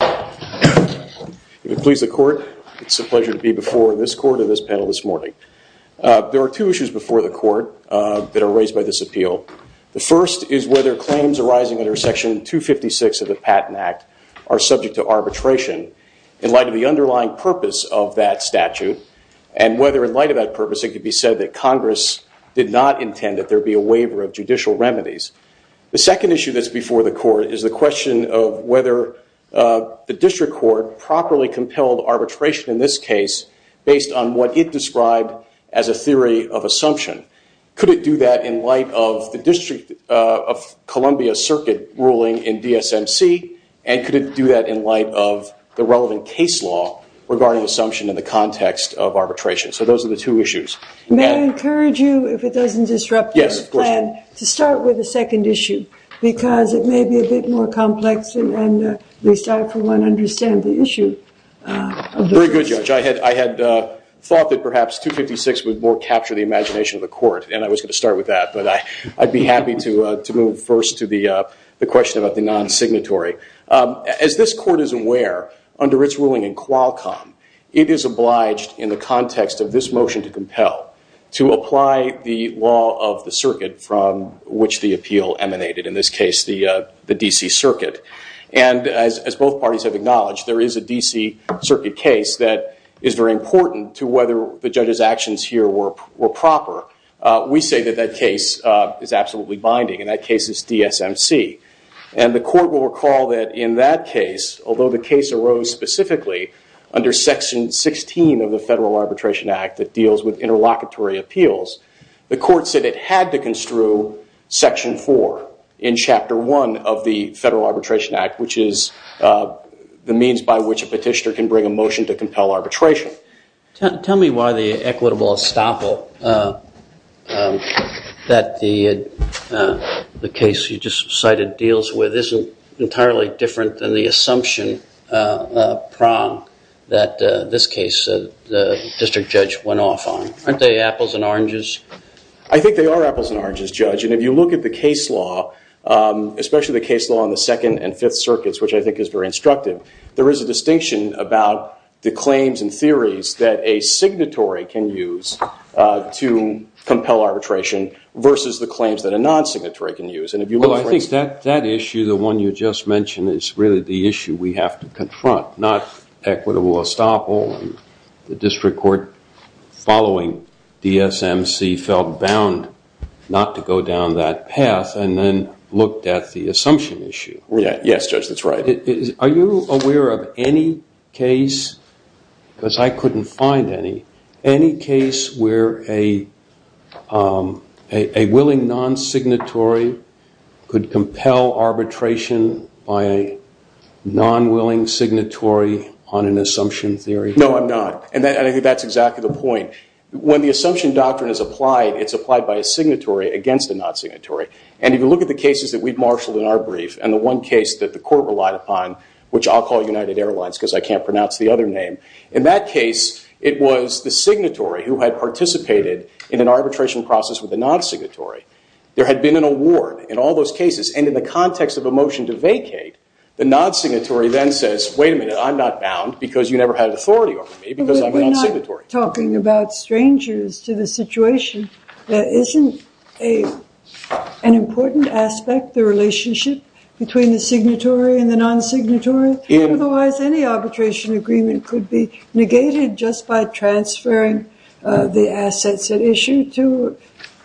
If it pleases the court, it's a pleasure to be before this court and this panel this morning. There are two issues before the court that are raised by this appeal. The first is whether claims arising under Section 256 of the Patent Act are subject to arbitration. In light of the underlying purpose of that statute, and whether in light of that purpose, it could be said that Congress did not intend that there be a waiver of judicial remedies. The second issue that's before the court is the question of whether the district court properly compelled arbitration in this case based on what it described as a theory of assumption. Could it do that in light of the District of Columbia Circuit ruling in DSMC? And could it do that in light of the relevant case law regarding assumption in the context of arbitration? So those are the two issues. May I encourage you, if it doesn't disrupt the plan, to start with the second issue? Because it may be a bit more complex, and at least I, for one, understand the issue. Very good, Judge. I had thought that perhaps 256 would more capture the imagination of the court, and I was going to start with that. But I'd be happy to move first to the question about the non-signatory. As this court is aware, under its ruling in Qualcomm, it is obliged, in the context of this motion to compel, to apply the law of the circuit from which the appeal emanated, in this case the D.C. Circuit. And as both parties have acknowledged, there is a D.C. Circuit case that is very important to whether the judge's actions here were proper. We say that that case is absolutely binding, and that case is DSMC. And the court will recall that in that case, although the case arose specifically under Section 16 of the Federal Arbitration Act that deals with interlocutory appeals, the court said it had to construe Section 4 in Chapter 1 of the Federal Arbitration Act, which is the means by which a petitioner can bring a motion to compel arbitration. Tell me why the equitable estoppel that the case you just cited deals with isn't entirely different than the assumption prong that this case the district judge went off on. Aren't they apples and oranges? I think they are apples and oranges, Judge. And if you look at the case law, especially the case law in the Second and Fifth Circuits, which I think is very instructive, there is a distinction about the claims and theories that a signatory can use to compel arbitration versus the claims that a non-signatory can use. Well, I think that issue, the one you just mentioned, is really the issue we have to confront, not equitable estoppel. The district court following DSMC felt bound not to go down that path and then looked at the assumption issue. Yes, Judge, that's right. Are you aware of any case, because I couldn't find any, any case where a willing non-signatory could compel arbitration by a non-willing signatory on an assumption theory? No, I'm not. And I think that's exactly the point. When the assumption doctrine is applied, it's applied by a signatory against a non-signatory. And if you look at the cases that we've marshaled in our brief and the one case that the court relied upon, which I'll call United Airlines because I can't pronounce the other name, in that case it was the signatory who had participated in an arbitration process with a non-signatory. There had been an award in all those cases. And in the context of a motion to vacate, the non-signatory then says, wait a minute, I'm not bound because you never had authority over me because I'm a non-signatory. You're talking about strangers to the situation. Isn't an important aspect the relationship between the signatory and the non-signatory? Otherwise, any arbitration agreement could be negated just by transferring the assets at issue to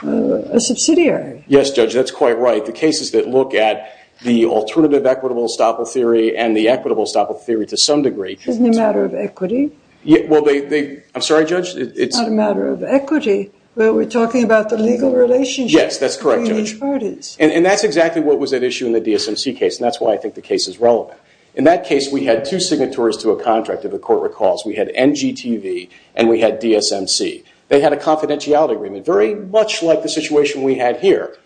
a subsidiary. Yes, Judge, that's quite right. The cases that look at the alternative equitable estoppel theory and the equitable estoppel theory to some degree. Isn't it a matter of equity? I'm sorry, Judge. It's a matter of equity. We're talking about the legal relationship. Yes, that's correct, Judge. And that's exactly what was at issue in the DSMC case, and that's why I think the case is relevant. In that case, we had two signatories to a contract that the court recalls. We had NGTV and we had DSMC. They had a confidentiality agreement, very much like the situation we had here.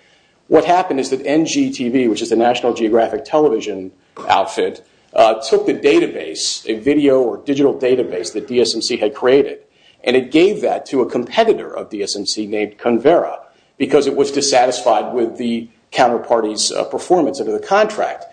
What happened is that NGTV, which is the National Geographic television outfit, took the database, a video or digital database that DSMC had created, and it gave that to a competitor of DSMC named Convera because it was dissatisfied with the counterparty's performance under the contract.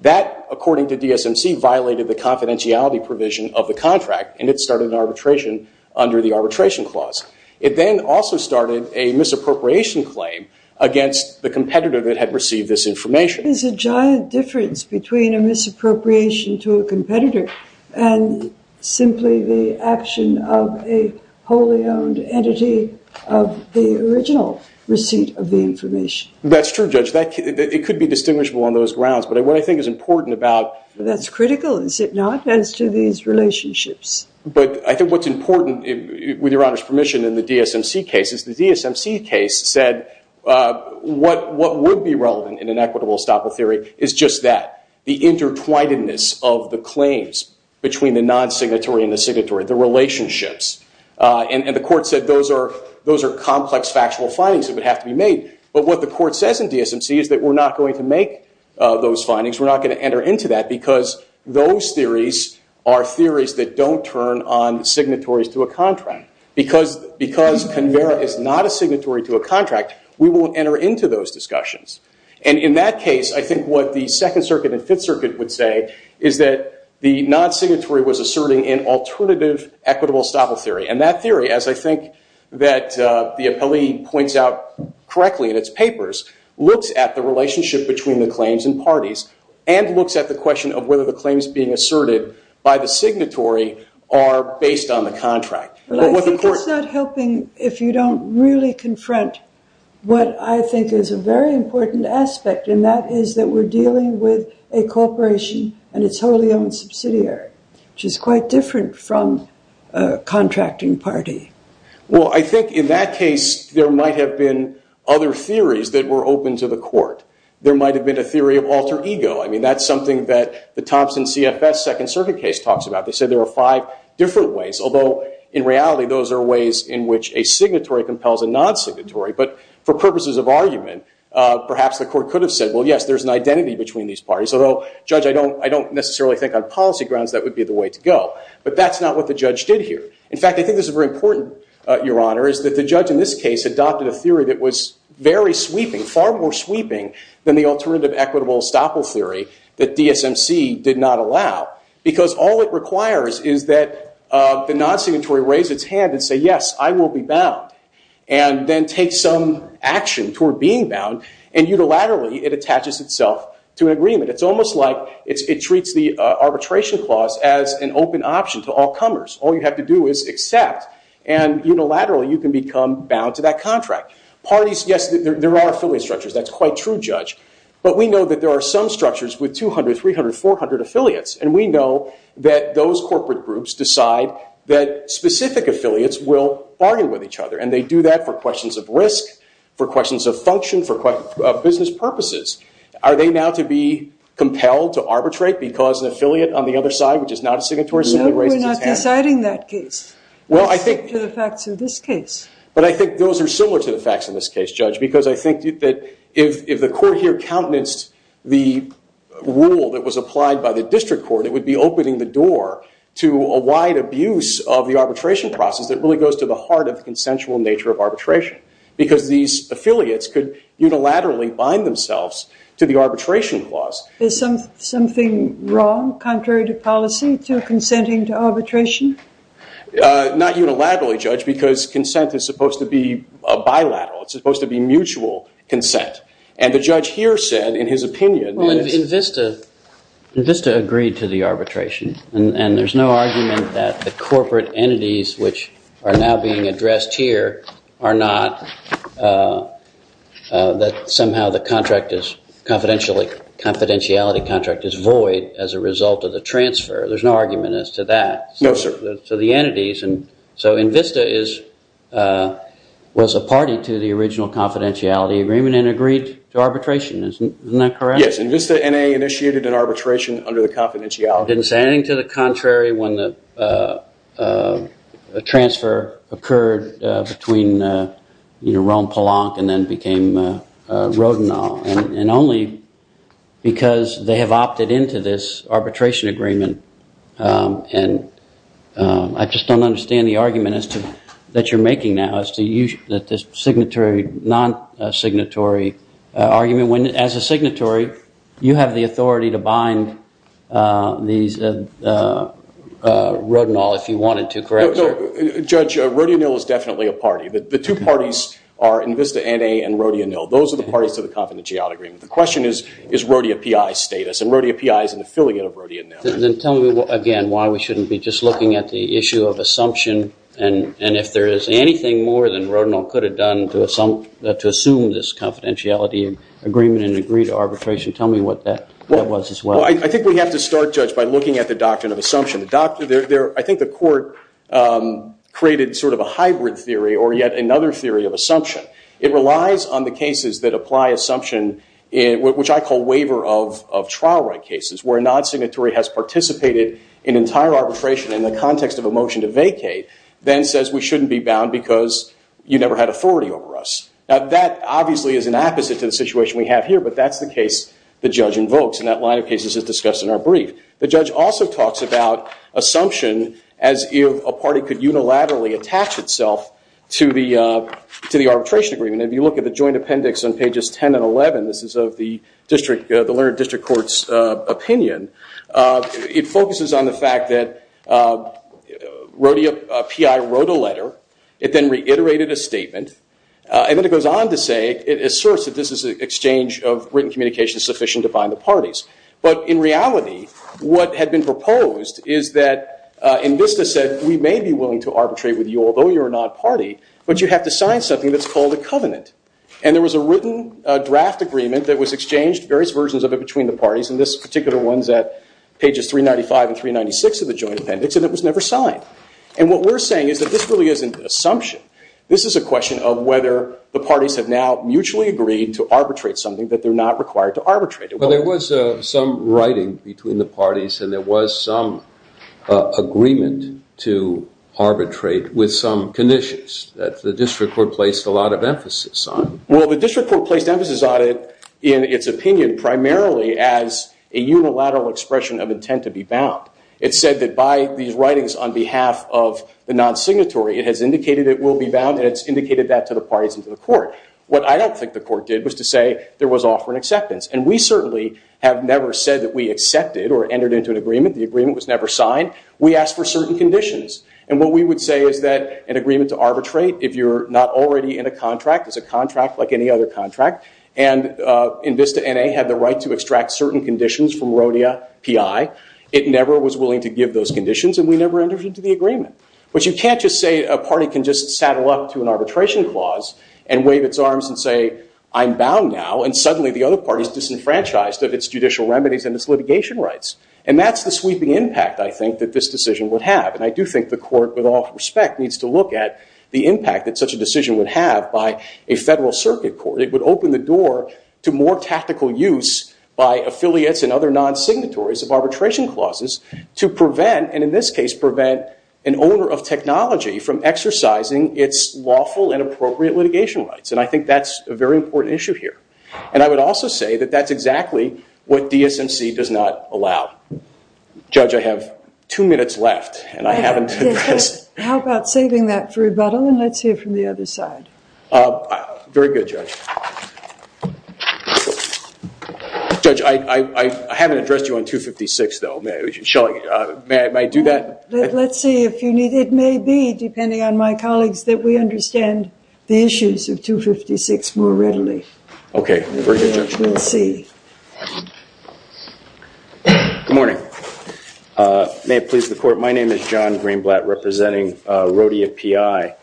That, according to DSMC, violated the confidentiality provision of the contract, and it started arbitration under the arbitration clause. It then also started a misappropriation claim against the competitor that had received this information. There is a giant difference between a misappropriation to a competitor and simply the action of a wholly owned entity of the original receipt of the information. That's true, Judge. It could be distinguishable on those grounds. But what I think is important about- That's critical, is it not, as to these relationships? But I think what's important, with Your Honor's permission, in the DSMC case, is the DSMC case said what would be relevant in an equitable estoppel theory is just that, the intertwinedness of the claims between the non-signatory and the signatory, the relationships. And the court said those are complex factual findings that would have to be made. But what the court says in DSMC is that we're not going to make those findings, we're not going to enter into that because those theories are theories that don't turn on signatories to a contract. Because Convera is not a signatory to a contract, we won't enter into those discussions. And in that case, I think what the Second Circuit and Fifth Circuit would say is that the non-signatory was asserting an alternative equitable estoppel theory. And that theory, as I think that the appellee points out correctly in its papers, looks at the relationship between the claims and parties and looks at the question of whether the claims being asserted by the signatory are based on the contract. Well, I think it's not helping if you don't really confront what I think is a very important aspect, and that is that we're dealing with a corporation and its wholly owned subsidiary, which is quite different from a contracting party. Well, I think in that case, there might have been other theories that were open to the court. There might have been a theory of alter ego. I mean, that's something that the Thompson CFS Second Circuit case talks about. They say there are five different ways, although in reality, those are ways in which a signatory compels a non-signatory. But for purposes of argument, perhaps the court could have said, well, yes, there's an identity between these parties, although, Judge, I don't necessarily think on policy grounds that would be the way to go. But that's not what the judge did here. In fact, I think this is very important, Your Honor, is that the judge in this case adopted a theory that was very sweeping, far more sweeping than the alternative equitable estoppel theory that DSMC did not allow, because all it requires is that the non-signatory raise its hand and say, yes, I will be bound, and then take some action toward being bound, and unilaterally, it attaches itself to an agreement. It's almost like it treats the arbitration clause as an open option to all comers. All you have to do is accept, and unilaterally, you can become bound to that contract. Parties, yes, there are affiliate structures. That's quite true, Judge. But we know that there are some structures with 200, 300, 400 affiliates, and we know that those corporate groups decide that specific affiliates will bargain with each other, and they do that for questions of risk, for questions of function, for business purposes. Are they now to be compelled to arbitrate because an affiliate on the other side, which is not a signatory, simply raises its hand? No, we're not deciding that case, except for the facts in this case. But I think those are similar to the facts in this case, Judge, because I think that if the court here countenanced the rule that was applied by the district court, it would be opening the door to a wide abuse of the arbitration process that really goes to the heart of the consensual nature of arbitration, because these affiliates could unilaterally bind themselves to the arbitration clause. Is something wrong, contrary to policy, to consenting to arbitration? Not unilaterally, Judge, because consent is supposed to be bilateral. It's supposed to be mutual consent. And the judge here said, in his opinion- Well, INVISTA agreed to the arbitration, and there's no argument that the corporate entities, which are now being addressed here, are not that somehow the confidentiality contract is void as a result of the transfer. There's no argument as to that. No, sir. So INVISTA was a party to the original confidentiality agreement and agreed to arbitration. Isn't that correct? Yes, INVISTA, N.A., initiated an arbitration under the confidentiality- Didn't say anything to the contrary when the transfer occurred between Rome-Polanc and then became Rodinall, and only because they have opted into this arbitration agreement and I just don't understand the argument that you're making now, that this signatory, non-signatory argument, when, as a signatory, you have the authority to bind Rodinall if you wanted to, correct? Judge, Rodinall is definitely a party. The two parties are INVISTA, N.A., and Rodinall. Those are the parties to the confidentiality agreement. The question is, is Rodinall PI status? And Rodinall PI is an affiliate of Rodinall. Then tell me, again, why we shouldn't be just looking at the issue of assumption and if there is anything more than Rodinall could have done to assume this confidentiality agreement and agree to arbitration. Tell me what that was as well. I think we have to start, Judge, by looking at the doctrine of assumption. I think the court created sort of a hybrid theory or yet another theory of assumption. It relies on the cases that apply assumption, which I call waiver of trial right cases, where a non-signatory has participated in entire arbitration in the context of a motion to vacate, then says we shouldn't be bound because you never had authority over us. Now, that obviously is an opposite to the situation we have here, but that's the case the judge invokes, and that line of cases is discussed in our brief. The judge also talks about assumption as if a party could unilaterally attach itself to the arbitration agreement. If you look at the joint appendix on pages 10 and 11, this is of the Learned District Court's opinion, it focuses on the fact that a PI wrote a letter, it then reiterated a statement, and then it goes on to say it asserts that this is an exchange of written communication sufficient to bind the parties. But in reality, what had been proposed is that INVISTA said we may be willing to arbitrate with you, and there was a written draft agreement that was exchanged, various versions of it between the parties, and this particular one's at pages 395 and 396 of the joint appendix, and it was never signed. And what we're saying is that this really isn't assumption. This is a question of whether the parties have now mutually agreed to arbitrate something that they're not required to arbitrate. Well, there was some writing between the parties, and there was some agreement to arbitrate with some conditions. The district court placed a lot of emphasis on it. Well, the district court placed emphasis on it in its opinion primarily as a unilateral expression of intent to be bound. It said that by these writings on behalf of the non-signatory, it has indicated it will be bound, and it's indicated that to the parties and to the court. What I don't think the court did was to say there was offer and acceptance, and we certainly have never said that we accepted or entered into an agreement. The agreement was never signed. We asked for certain conditions, and what we would say is that an agreement to arbitrate, if you're not already in a contract, is a contract like any other contract, and INVISTA N.A. had the right to extract certain conditions from Rodea P.I., it never was willing to give those conditions, and we never entered into the agreement. But you can't just say a party can just saddle up to an arbitration clause and wave its arms and say, I'm bound now, and suddenly the other party's disenfranchised of its judicial remedies and its litigation rights. And that's the sweeping impact, I think, that this decision would have, and I do think the court, with all respect, needs to look at the impact that such a decision would have by a federal circuit court. It would open the door to more tactical use by affiliates and other non-signatories of arbitration clauses to prevent, and in this case prevent, an owner of technology from exercising its lawful and appropriate litigation rights, and I think that's a very important issue here. And I would also say that that's exactly what DSMC does not allow. Judge, I have two minutes left, and I haven't addressed... How about saving that for rebuttal, and let's hear from the other side. Very good, Judge. Judge, I haven't addressed you on 256, though. May I do that? Let's see. It may be, depending on my colleagues, that we understand the issues of 256 more readily. Okay. We'll see. Good morning. May it please the Court, my name is John Greenblatt, representing Rodia P.I.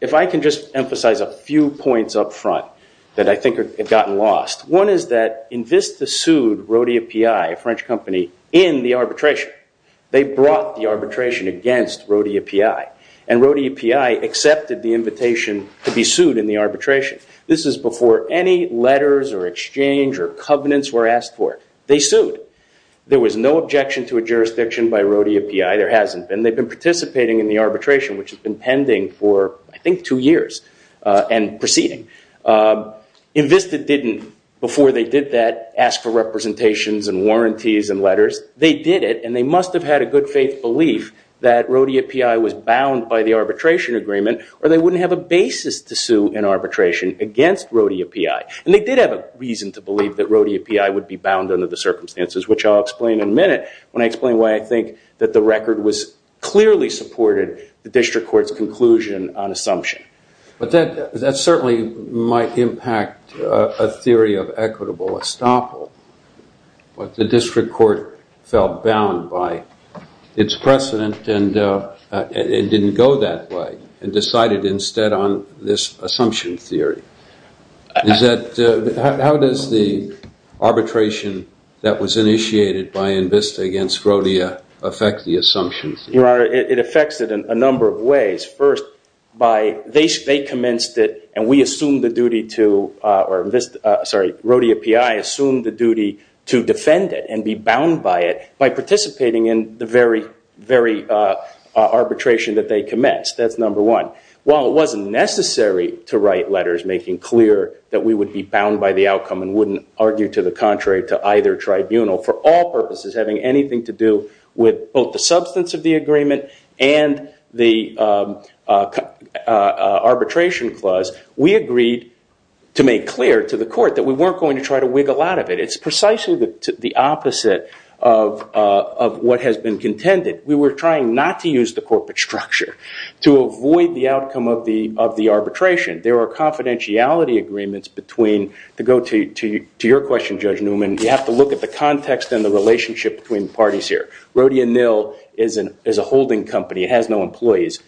If I can just emphasize a few points up front that I think have gotten lost, one is that Invista sued Rodia P.I., a French company, in the arbitration. They brought the arbitration against Rodia P.I., and Rodia P.I. accepted the invitation to be sued in the arbitration. This is before any letters or exchange or covenants were asked for. They sued. There was no objection to a jurisdiction by Rodia P.I. There hasn't been. They've been participating in the arbitration, which has been pending for, I think, two years, and proceeding. Invista didn't, before they did that, ask for representations and warranties and letters. They did it, and they must have had a good faith belief that Rodia P.I. was bound by the arbitration agreement, or they wouldn't have a basis to sue in arbitration against Rodia P.I. And they did have a reason to believe that Rodia P.I. would be bound under the circumstances, which I'll explain in a minute when I explain why I think that the record was clearly supported, the district court's conclusion on assumption. But that certainly might impact a theory of equitable estoppel, but the district court felt bound by its precedent and didn't go that way and decided instead on this assumption theory. How does the arbitration that was initiated by Invista against Rodia affect the assumption theory? They commenced it, and Rodia P.I. assumed the duty to defend it and be bound by it by participating in the very arbitration that they commenced. That's number one. While it wasn't necessary to write letters making clear that we would be bound by the outcome and wouldn't argue to the contrary to either tribunal, for all purposes, having anything to do with both the substance of the agreement and the arbitration clause, we agreed to make clear to the court that we weren't going to try to wiggle out of it. It's precisely the opposite of what has been contended. We were trying not to use the corporate structure to avoid the outcome of the arbitration. There are confidentiality agreements between, to go to your question, Judge Newman, you have to look at the context and the relationship between parties here. Rodia Nill is a holding company, it has no employees.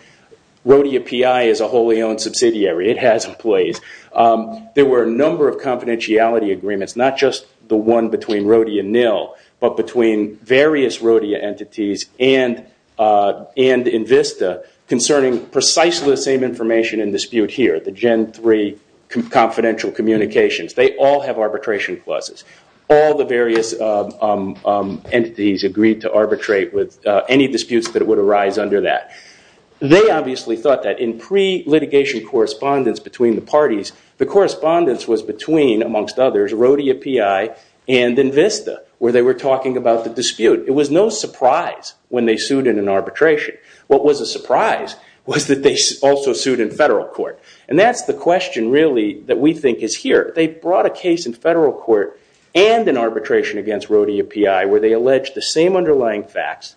Rodia P.I. is a wholly owned subsidiary, it has employees. There were a number of confidentiality agreements, not just the one between Rodia Nill, but between various Rodia entities and Invista concerning precisely the same information in dispute here, the Gen 3 confidential communications. They all have arbitration clauses. All the various entities agreed to arbitrate with any disputes that would arise under that. They obviously thought that in pre-litigation correspondence between the parties, the correspondence was between, amongst others, Rodia P.I. and Invista, where they were talking about the dispute. It was no surprise when they sued in an arbitration. What was a surprise was that they also sued in federal court. And that's the question really that we think is here. They brought a case in federal court and in arbitration against Rodia P.I., where they alleged the same underlying facts,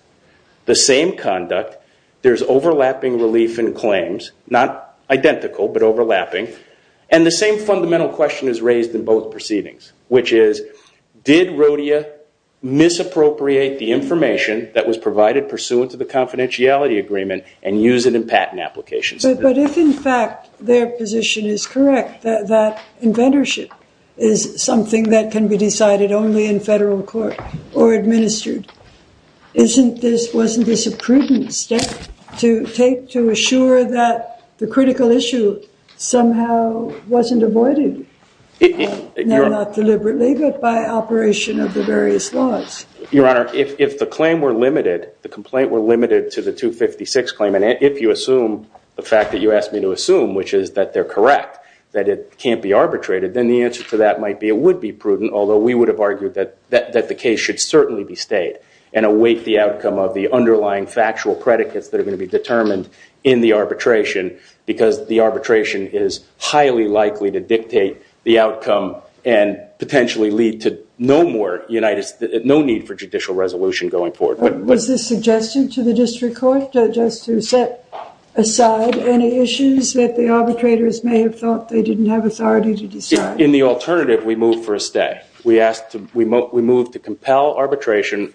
the same conduct. There's overlapping relief in claims, not identical, but overlapping. And the same fundamental question is raised in both proceedings, which is, did Rodia misappropriate the information that was provided pursuant to the confidentiality agreement and use it in patent applications? But if, in fact, their position is correct, that inventorship is something that can be decided only in federal court or administered, wasn't this a prudent step to take to assure that the critical issue somehow wasn't avoided, not deliberately, but by operation of the various laws? Your Honor, if the complaint were limited to the 256 claim, and if you assume the federal fact that you asked me to assume, which is that they're correct, that it can't be arbitrated, then the answer to that might be it would be prudent, although we would have argued that the case should certainly be stayed and await the outcome of the underlying factual predicates that are going to be determined in the arbitration, because the arbitration is highly likely to dictate the outcome and potentially lead to no need for judicial resolution going forward. Was this suggestion to the district court just to set aside any issues that the arbitrators may have thought they didn't have authority to decide? In the alternative, we moved for a stay. We moved to compel arbitration,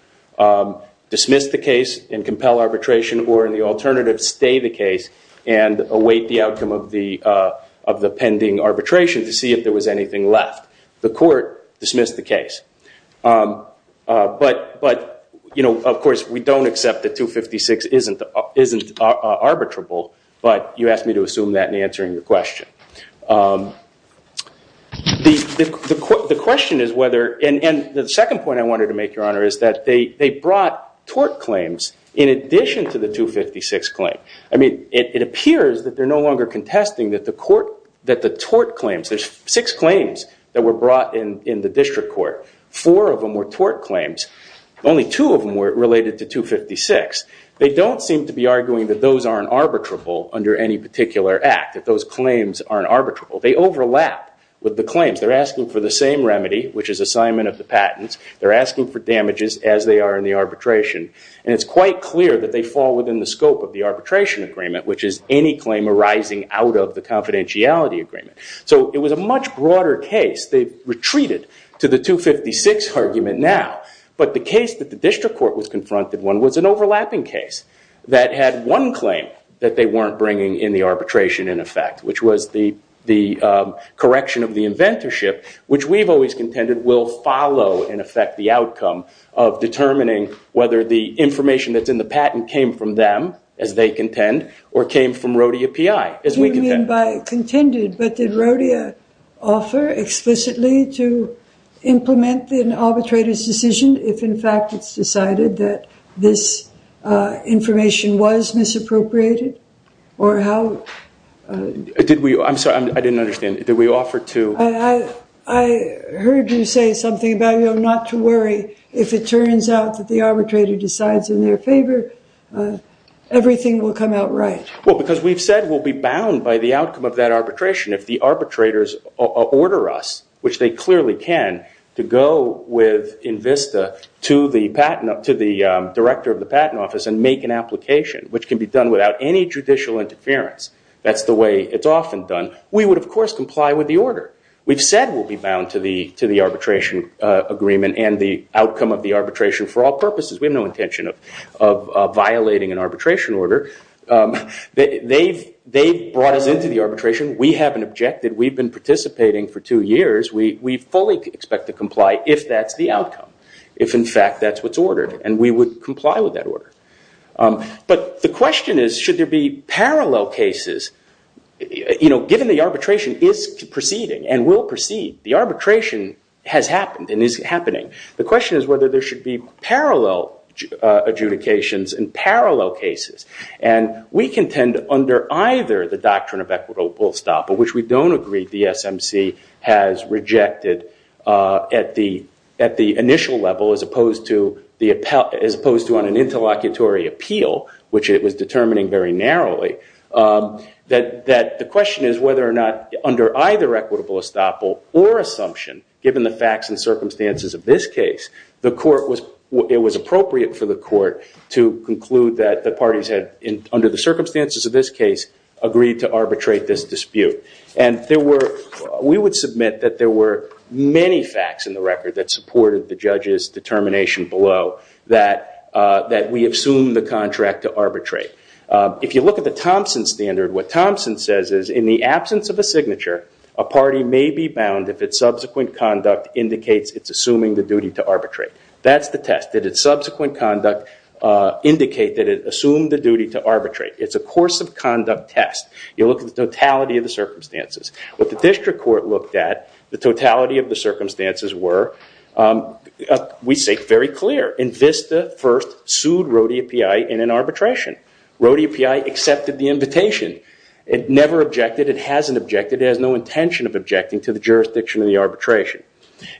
dismiss the case, and compel arbitration, or in the alternative, stay the case and await the outcome of the pending arbitration to see if there was anything left. The court dismissed the case. But of course, we don't accept that 256 isn't arbitrable, but you asked me to assume that in answering your question. And the second point I wanted to make, Your Honor, is that they brought tort claims in addition to the 256 claim. I mean, it appears that they're no longer contesting that the tort claims, there's six claims that were brought in the district court. Four of them were tort claims. Only two of them were related to 256. They don't seem to be arguing that those aren't arbitrable under any particular act, that those claims aren't arbitrable. They overlap with the claims. They're asking for the same remedy, which is assignment of the patents. They're asking for damages as they are in the arbitration. And it's quite clear that they fall within the scope of the arbitration agreement, which is any claim arising out of the confidentiality agreement. So it was a much broader case. They've retreated to the 256 argument now. But the case that the district court was confronted with was an overlapping case that had one claim that they weren't bringing in the arbitration, in effect, which was the correction of the inventorship, which we've always contended will follow, in effect, the outcome of determining whether the information that's in the patent came from them, as they contend, or came from Did Rodea offer explicitly to implement an arbitrator's decision if, in fact, it's decided that this information was misappropriated? Or how? I'm sorry. I didn't understand. Did we offer to? I heard you say something about not to worry. If it turns out that the arbitrator decides in their favor, everything will come out right. Well, because we've said we'll be bound by the outcome of that arbitration. If the arbitrators order us, which they clearly can, to go with Invista to the director of the patent office and make an application, which can be done without any judicial interference. That's the way it's often done. We would, of course, comply with the order. We've said we'll be bound to the arbitration agreement and the outcome of the arbitration for all purposes. We have no intention of violating an arbitration order. They've brought us into the arbitration. We haven't objected. We've been participating for two years. We fully expect to comply if that's the outcome, if, in fact, that's what's ordered. And we would comply with that order. But the question is, should there be parallel cases? Given the arbitration is proceeding and will proceed, the arbitration has happened and is happening. The question is whether there should be parallel adjudications and parallel cases. And we contend under either the doctrine of equitable estoppel, which we don't agree the SMC has rejected at the initial level as opposed to on an interlocutory appeal, which it was determining very narrowly, that the question is whether or not under either equitable estoppel or assumption, given the facts and under the circumstances of this case, agreed to arbitrate this dispute. And we would submit that there were many facts in the record that supported the judge's determination below that we assumed the contract to arbitrate. If you look at the Thompson standard, what Thompson says is, in the absence of a signature, a party may be bound if its subsequent conduct indicates it's assuming the duty to arbitrate. That's the test. Did its subsequent conduct indicate that it assumed the duty to arbitrate? It's a course of conduct test. You look at the totality of the circumstances. What the district court looked at, the totality of the circumstances were, we say very clear. Invista first sued Rho-DAPI in an arbitration. Rho-DAPI accepted the invitation. It never objected. It hasn't objected. It has no intention of objecting to the jurisdiction of the arbitration.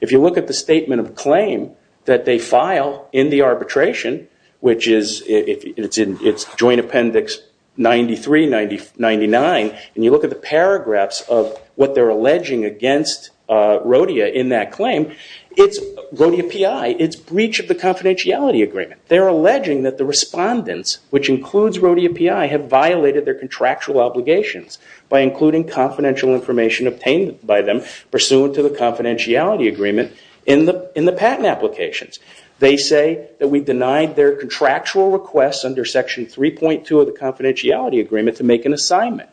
If you look at the statement of claim that they file in the arbitration, which is in its joint appendix 93-99, and you look at the paragraphs of what they're alleging against Rho-DAPI in that claim, it's Rho-DAPI. It's breach of the confidentiality agreement. They're alleging that the respondents, which includes Rho-DAPI, have violated their contractual obligations by including confidential information obtained by them pursuant to the confidentiality agreement in the patent applications. They say that we denied their contractual requests under section 3.2 of the confidentiality agreement to make an assignment.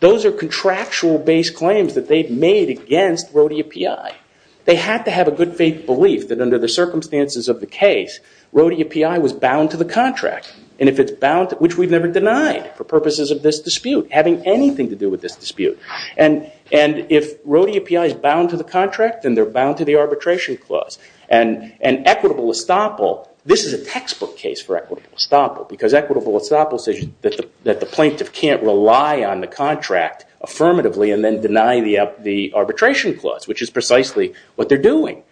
Those are contractual-based claims that they've made against Rho-DAPI. They have to have a good faith belief that under the circumstances of the case, Rho-DAPI was bound to the contract, which we've never denied for purposes of this dispute, having anything to do with this dispute. And if Rho-DAPI is bound to the contract, then they're bound to the arbitration clause. And Equitable Estoppel, this is a textbook case for Equitable Estoppel, because Equitable Estoppel says that the plaintiff can't rely on the contract affirmatively and then deny the arbitration clause, which is precisely what they're doing.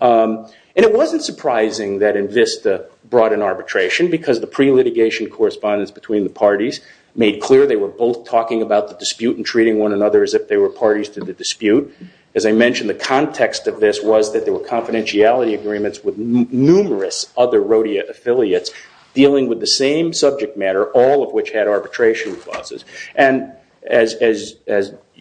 And it wasn't surprising that INVISTA brought an arbitration because the pre-litigation correspondence between the parties made clear they were both talking about the dispute and treating one another as if they were parties to the dispute. As I mentioned, the context of this was that there were confidentiality agreements with numerous other Rho-DAPI affiliates dealing with the same subject matter, all of which had arbitration clauses. And as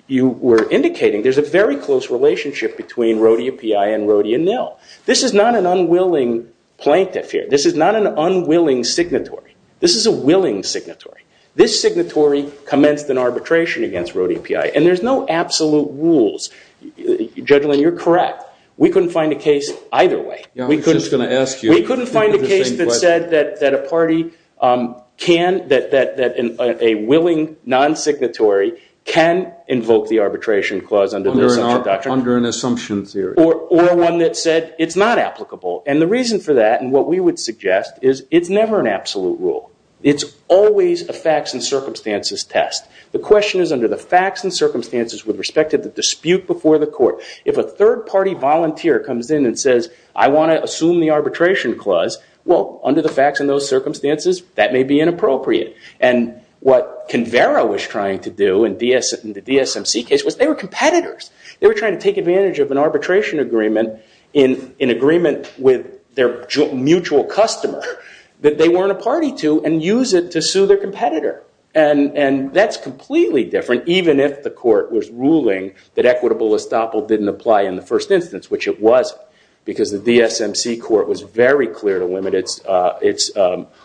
you were indicating, there's a very close relationship between Rho-DAPI and Rho-DNL. This is not an unwilling plaintiff here. This is not an unwilling signatory. This is a willing signatory. This signatory commenced an arbitration against Rho-DAPI, and there's no absolute rules. Judge Lynn, you're correct. We couldn't find a case either way. We couldn't find a case that said that a willing non-signatory can invoke the arbitration clause under an assumption theory. Or one that said it's not applicable. And the reason for that, and what we would suggest, is it's never an absolute rule. It's always a facts and circumstances test. The question is under the facts and circumstances with respect to the dispute before the court. If a third-party volunteer comes in and says, I want to assume the arbitration clause, well, under the facts and those circumstances, that may be inappropriate. And what Convera was trying to do in the DSMC case was they were competitors. They were trying to take advantage of an arbitration agreement in agreement with their mutual customer that they weren't a party to and use it to sue their competitor. And that's completely different even if the court was ruling that equitable estoppel didn't apply in the first instance, which it was because the DSMC court was very clear to limit its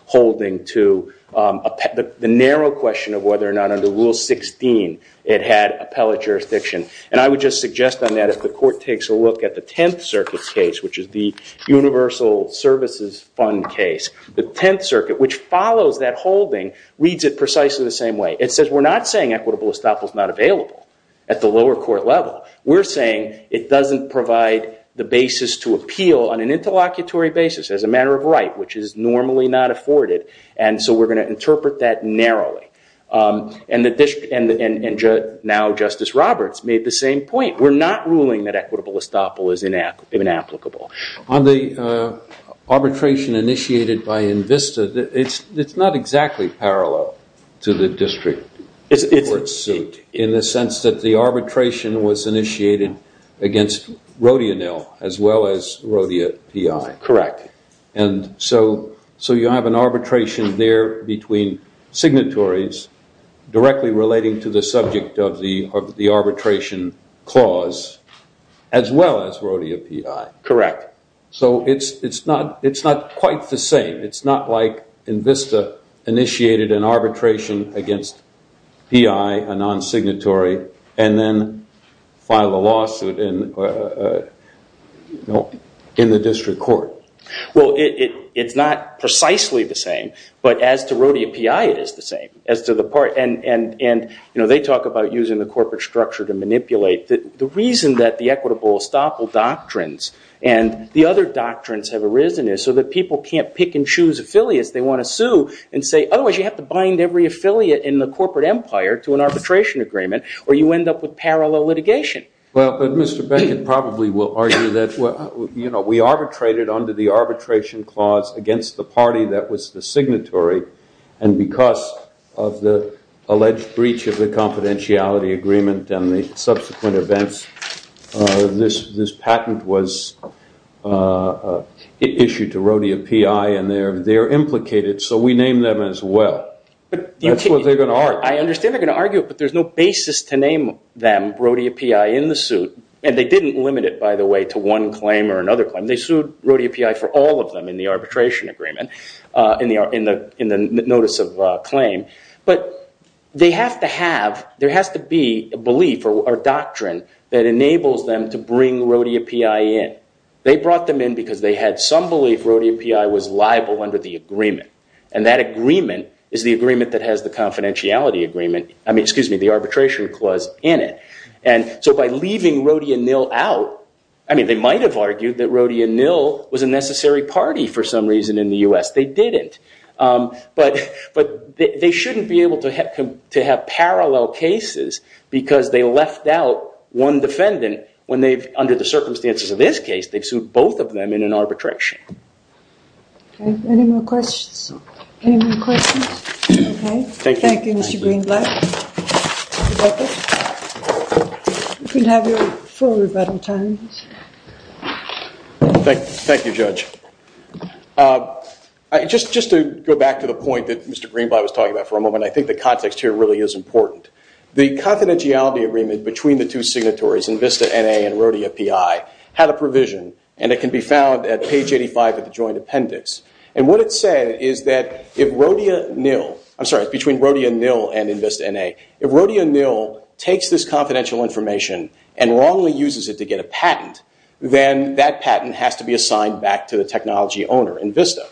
holding to the narrow question of whether or not under Rule 16 it had appellate jurisdiction. And I would just suggest on that if the court takes a look at the Tenth Circuit case, which is the Universal Services Fund case, the Tenth Circuit, which follows that holding, reads it precisely the same way. It says we're not saying equitable estoppel is not available at the lower court level. We're saying it doesn't provide the basis to appeal on an interlocutory basis as a matter of right, which is normally not afforded. And so we're going to interpret that narrowly. And now Justice Roberts made the same point. We're not ruling that equitable estoppel is inapplicable. On the arbitration initiated by INVISTA, it's not exactly parallel to the district court suit in the sense that the arbitration was initiated against Rodionil as well as Rodia PI. Correct. And so you have an arbitration there between signatories directly relating to the subject of the arbitration clause as well as Rodia PI. Correct. So it's not quite the same. It's not like INVISTA initiated an arbitration against PI, a non-signatory, and then filed a lawsuit in the district court. Well, it's not precisely the same. But as to Rodia PI, it is the same. And they talk about using the corporate structure to manipulate. The reason that the equitable estoppel doctrines and the other doctrines have arisen is so that people can't pick and choose affiliates they want to sue and say, otherwise you have to bind every affiliate in the corporate empire to an arbitration agreement, or you end up with parallel litigation. Well, but Mr. Beckett probably will argue that we arbitrated under the arbitration clause against the party that was the signatory. And because of the alleged breach of the confidentiality agreement and the subsequent events, this patent was issued to Rodia PI, and they're implicated. So we name them as well. That's what they're going to argue. I understand they're going to argue it, but there's no basis to name them Rodia PI in the suit. And they didn't limit it, by the way, to one claim or another claim. They sued Rodia PI for all of them in the arbitration agreement, in the notice of claim. But they have to have, there has to be a belief or doctrine that enables them to bring Rodia PI in. They brought them in because they had some belief Rodia PI was liable under the agreement. And that agreement is the agreement that has the confidentiality agreement, I mean, excuse me, the arbitration clause in it. And so by leaving Rodia Nil out, I mean, they might have argued that Rodia Nil was a necessary party for some reason in the US. They didn't. But they shouldn't be able to have parallel cases because they left out one defendant when they've, under the circumstances of this case, they've sued both of them in an arbitration. Any more questions? Thank you, Mr. Greenblatt. You're welcome. You can have your four rebuttal times. Thank you, Judge. Just to go back to the point that Mr. Greenblatt was talking about for a moment, I think the context here really is important. The confidentiality agreement between the two signatories, Invista NA and Rodia PI, had a provision. And it can be found at page 85 of the joint appendix. And what it said is that if Rodia Nil, I'm sorry, between Rodia Nil and Invista NA, if Rodia Nil takes this confidential information and wrongly uses it to get a patent, then that patent has to be assigned back to the technology owner, Invista.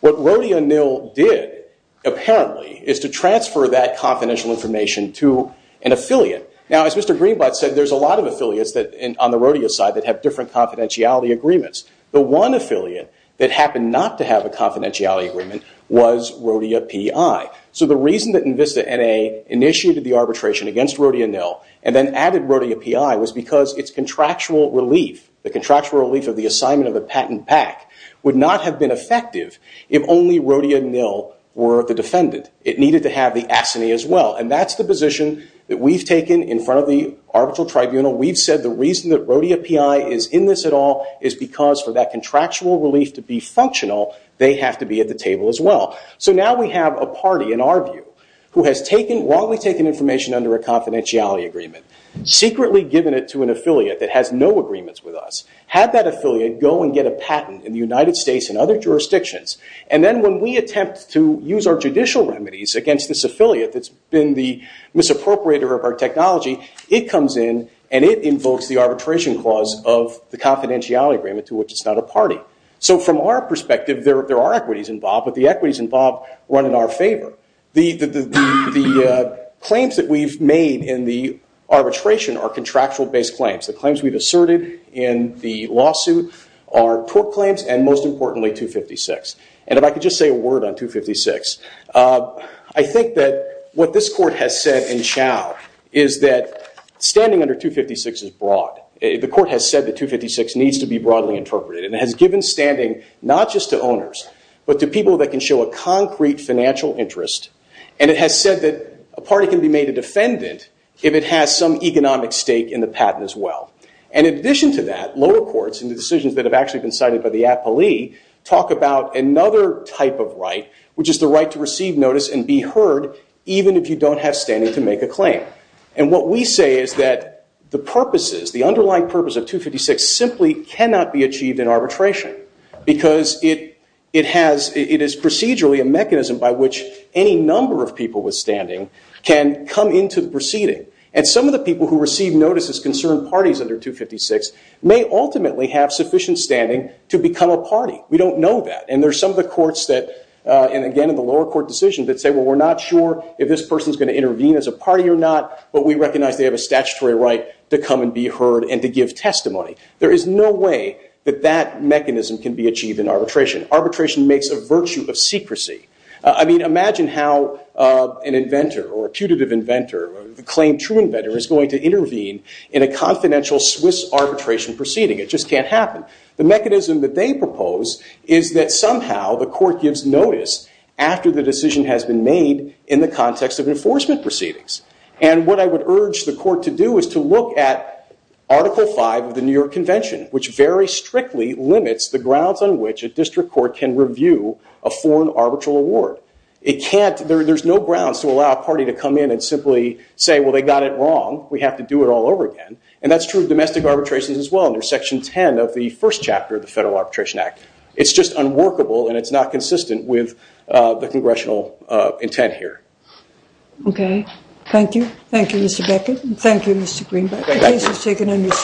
What Rodia Nil did, apparently, is to transfer that confidential information to an affiliate. Now, as Mr. Greenblatt said, there's a lot of affiliates on the Rodia side that have different confidentiality agreements. The one affiliate that happened not to have a confidentiality agreement was Rodia PI. So the reason that Invista NA initiated the arbitration against Rodia Nil and then added Rodia PI was because its contractual relief, the contractual relief of the assignment of the patent pack, would not have been effective if only Rodia Nil were the defendant. It needed to have the assignee as well. And that's the position that we've taken in front of the arbitral tribunal. We've said the reason that Rodia PI is in this at all is because for that contractual relief to be functional, they have to be at the table as well. So now we have a party, in our view, who has wrongly taken information under a confidentiality agreement, secretly given it to an affiliate that has no agreements with us, had that affiliate go and get a patent in the United States and other jurisdictions, and then when we attempt to use our judicial remedies against this affiliate that's been the misappropriator of our technology, it comes in and it invokes the arbitration clause of the confidentiality agreement to which it's not a party. So from our perspective, there are equities involved, but the equities involved run in our favor. The claims that we've made in the arbitration are contractual-based claims. The claims we've asserted in the lawsuit are tort claims and, most importantly, 256. And if I could just say a word on 256, I think that what this court has said in Chau is that standing under 256 is broad. The court has said that 256 needs to be broadly interpreted, and it has given standing not just to owners, but to people that can show a concrete financial interest. And it has said that a party can be made a defendant if it has some economic stake in the patent as well. And in addition to that, lower courts in the decisions that have actually been cited by the appellee talk about another type of right, which is the right to receive notice and be heard even if you don't have standing to make a claim. And what we say is that the purposes, the underlying purpose of 256 simply cannot be achieved in arbitration because it is procedurally a mechanism by which any number of people with standing can come into the proceeding. And some of the people who receive notice as concerned parties under 256 may ultimately have sufficient standing to become a party. We don't know that. And there are some of the courts that, and again in the lower court decisions, that say, well, we're not sure if this person is going to intervene as a party or not, but we recognize they have a statutory right to come and be heard and to give testimony. There is no way that that mechanism can be achieved in arbitration. Arbitration makes a virtue of secrecy. I mean, imagine how an inventor or a putative inventor, a claimed true inventor, is going to intervene in a confidential Swiss arbitration proceeding. It just can't happen. The mechanism that they propose is that somehow the court gives notice after the decision has been made in the context of enforcement proceedings. And what I would urge the court to do is to look at Article V of the New York Convention, which very strictly limits the grounds on which a district court can review a foreign arbitral award. There's no grounds to allow a party to come in and simply say, well, they got it wrong. We have to do it all over again. And that's true of domestic arbitrations as well under Section 10 of the first chapter of the Federal Arbitration Act. It's just unworkable, and it's not consistent with the congressional intent here. Okay. Thank you. Thank you, Mr. Beckett. Thank you, Mr. Greenberg. The case is taken under submission.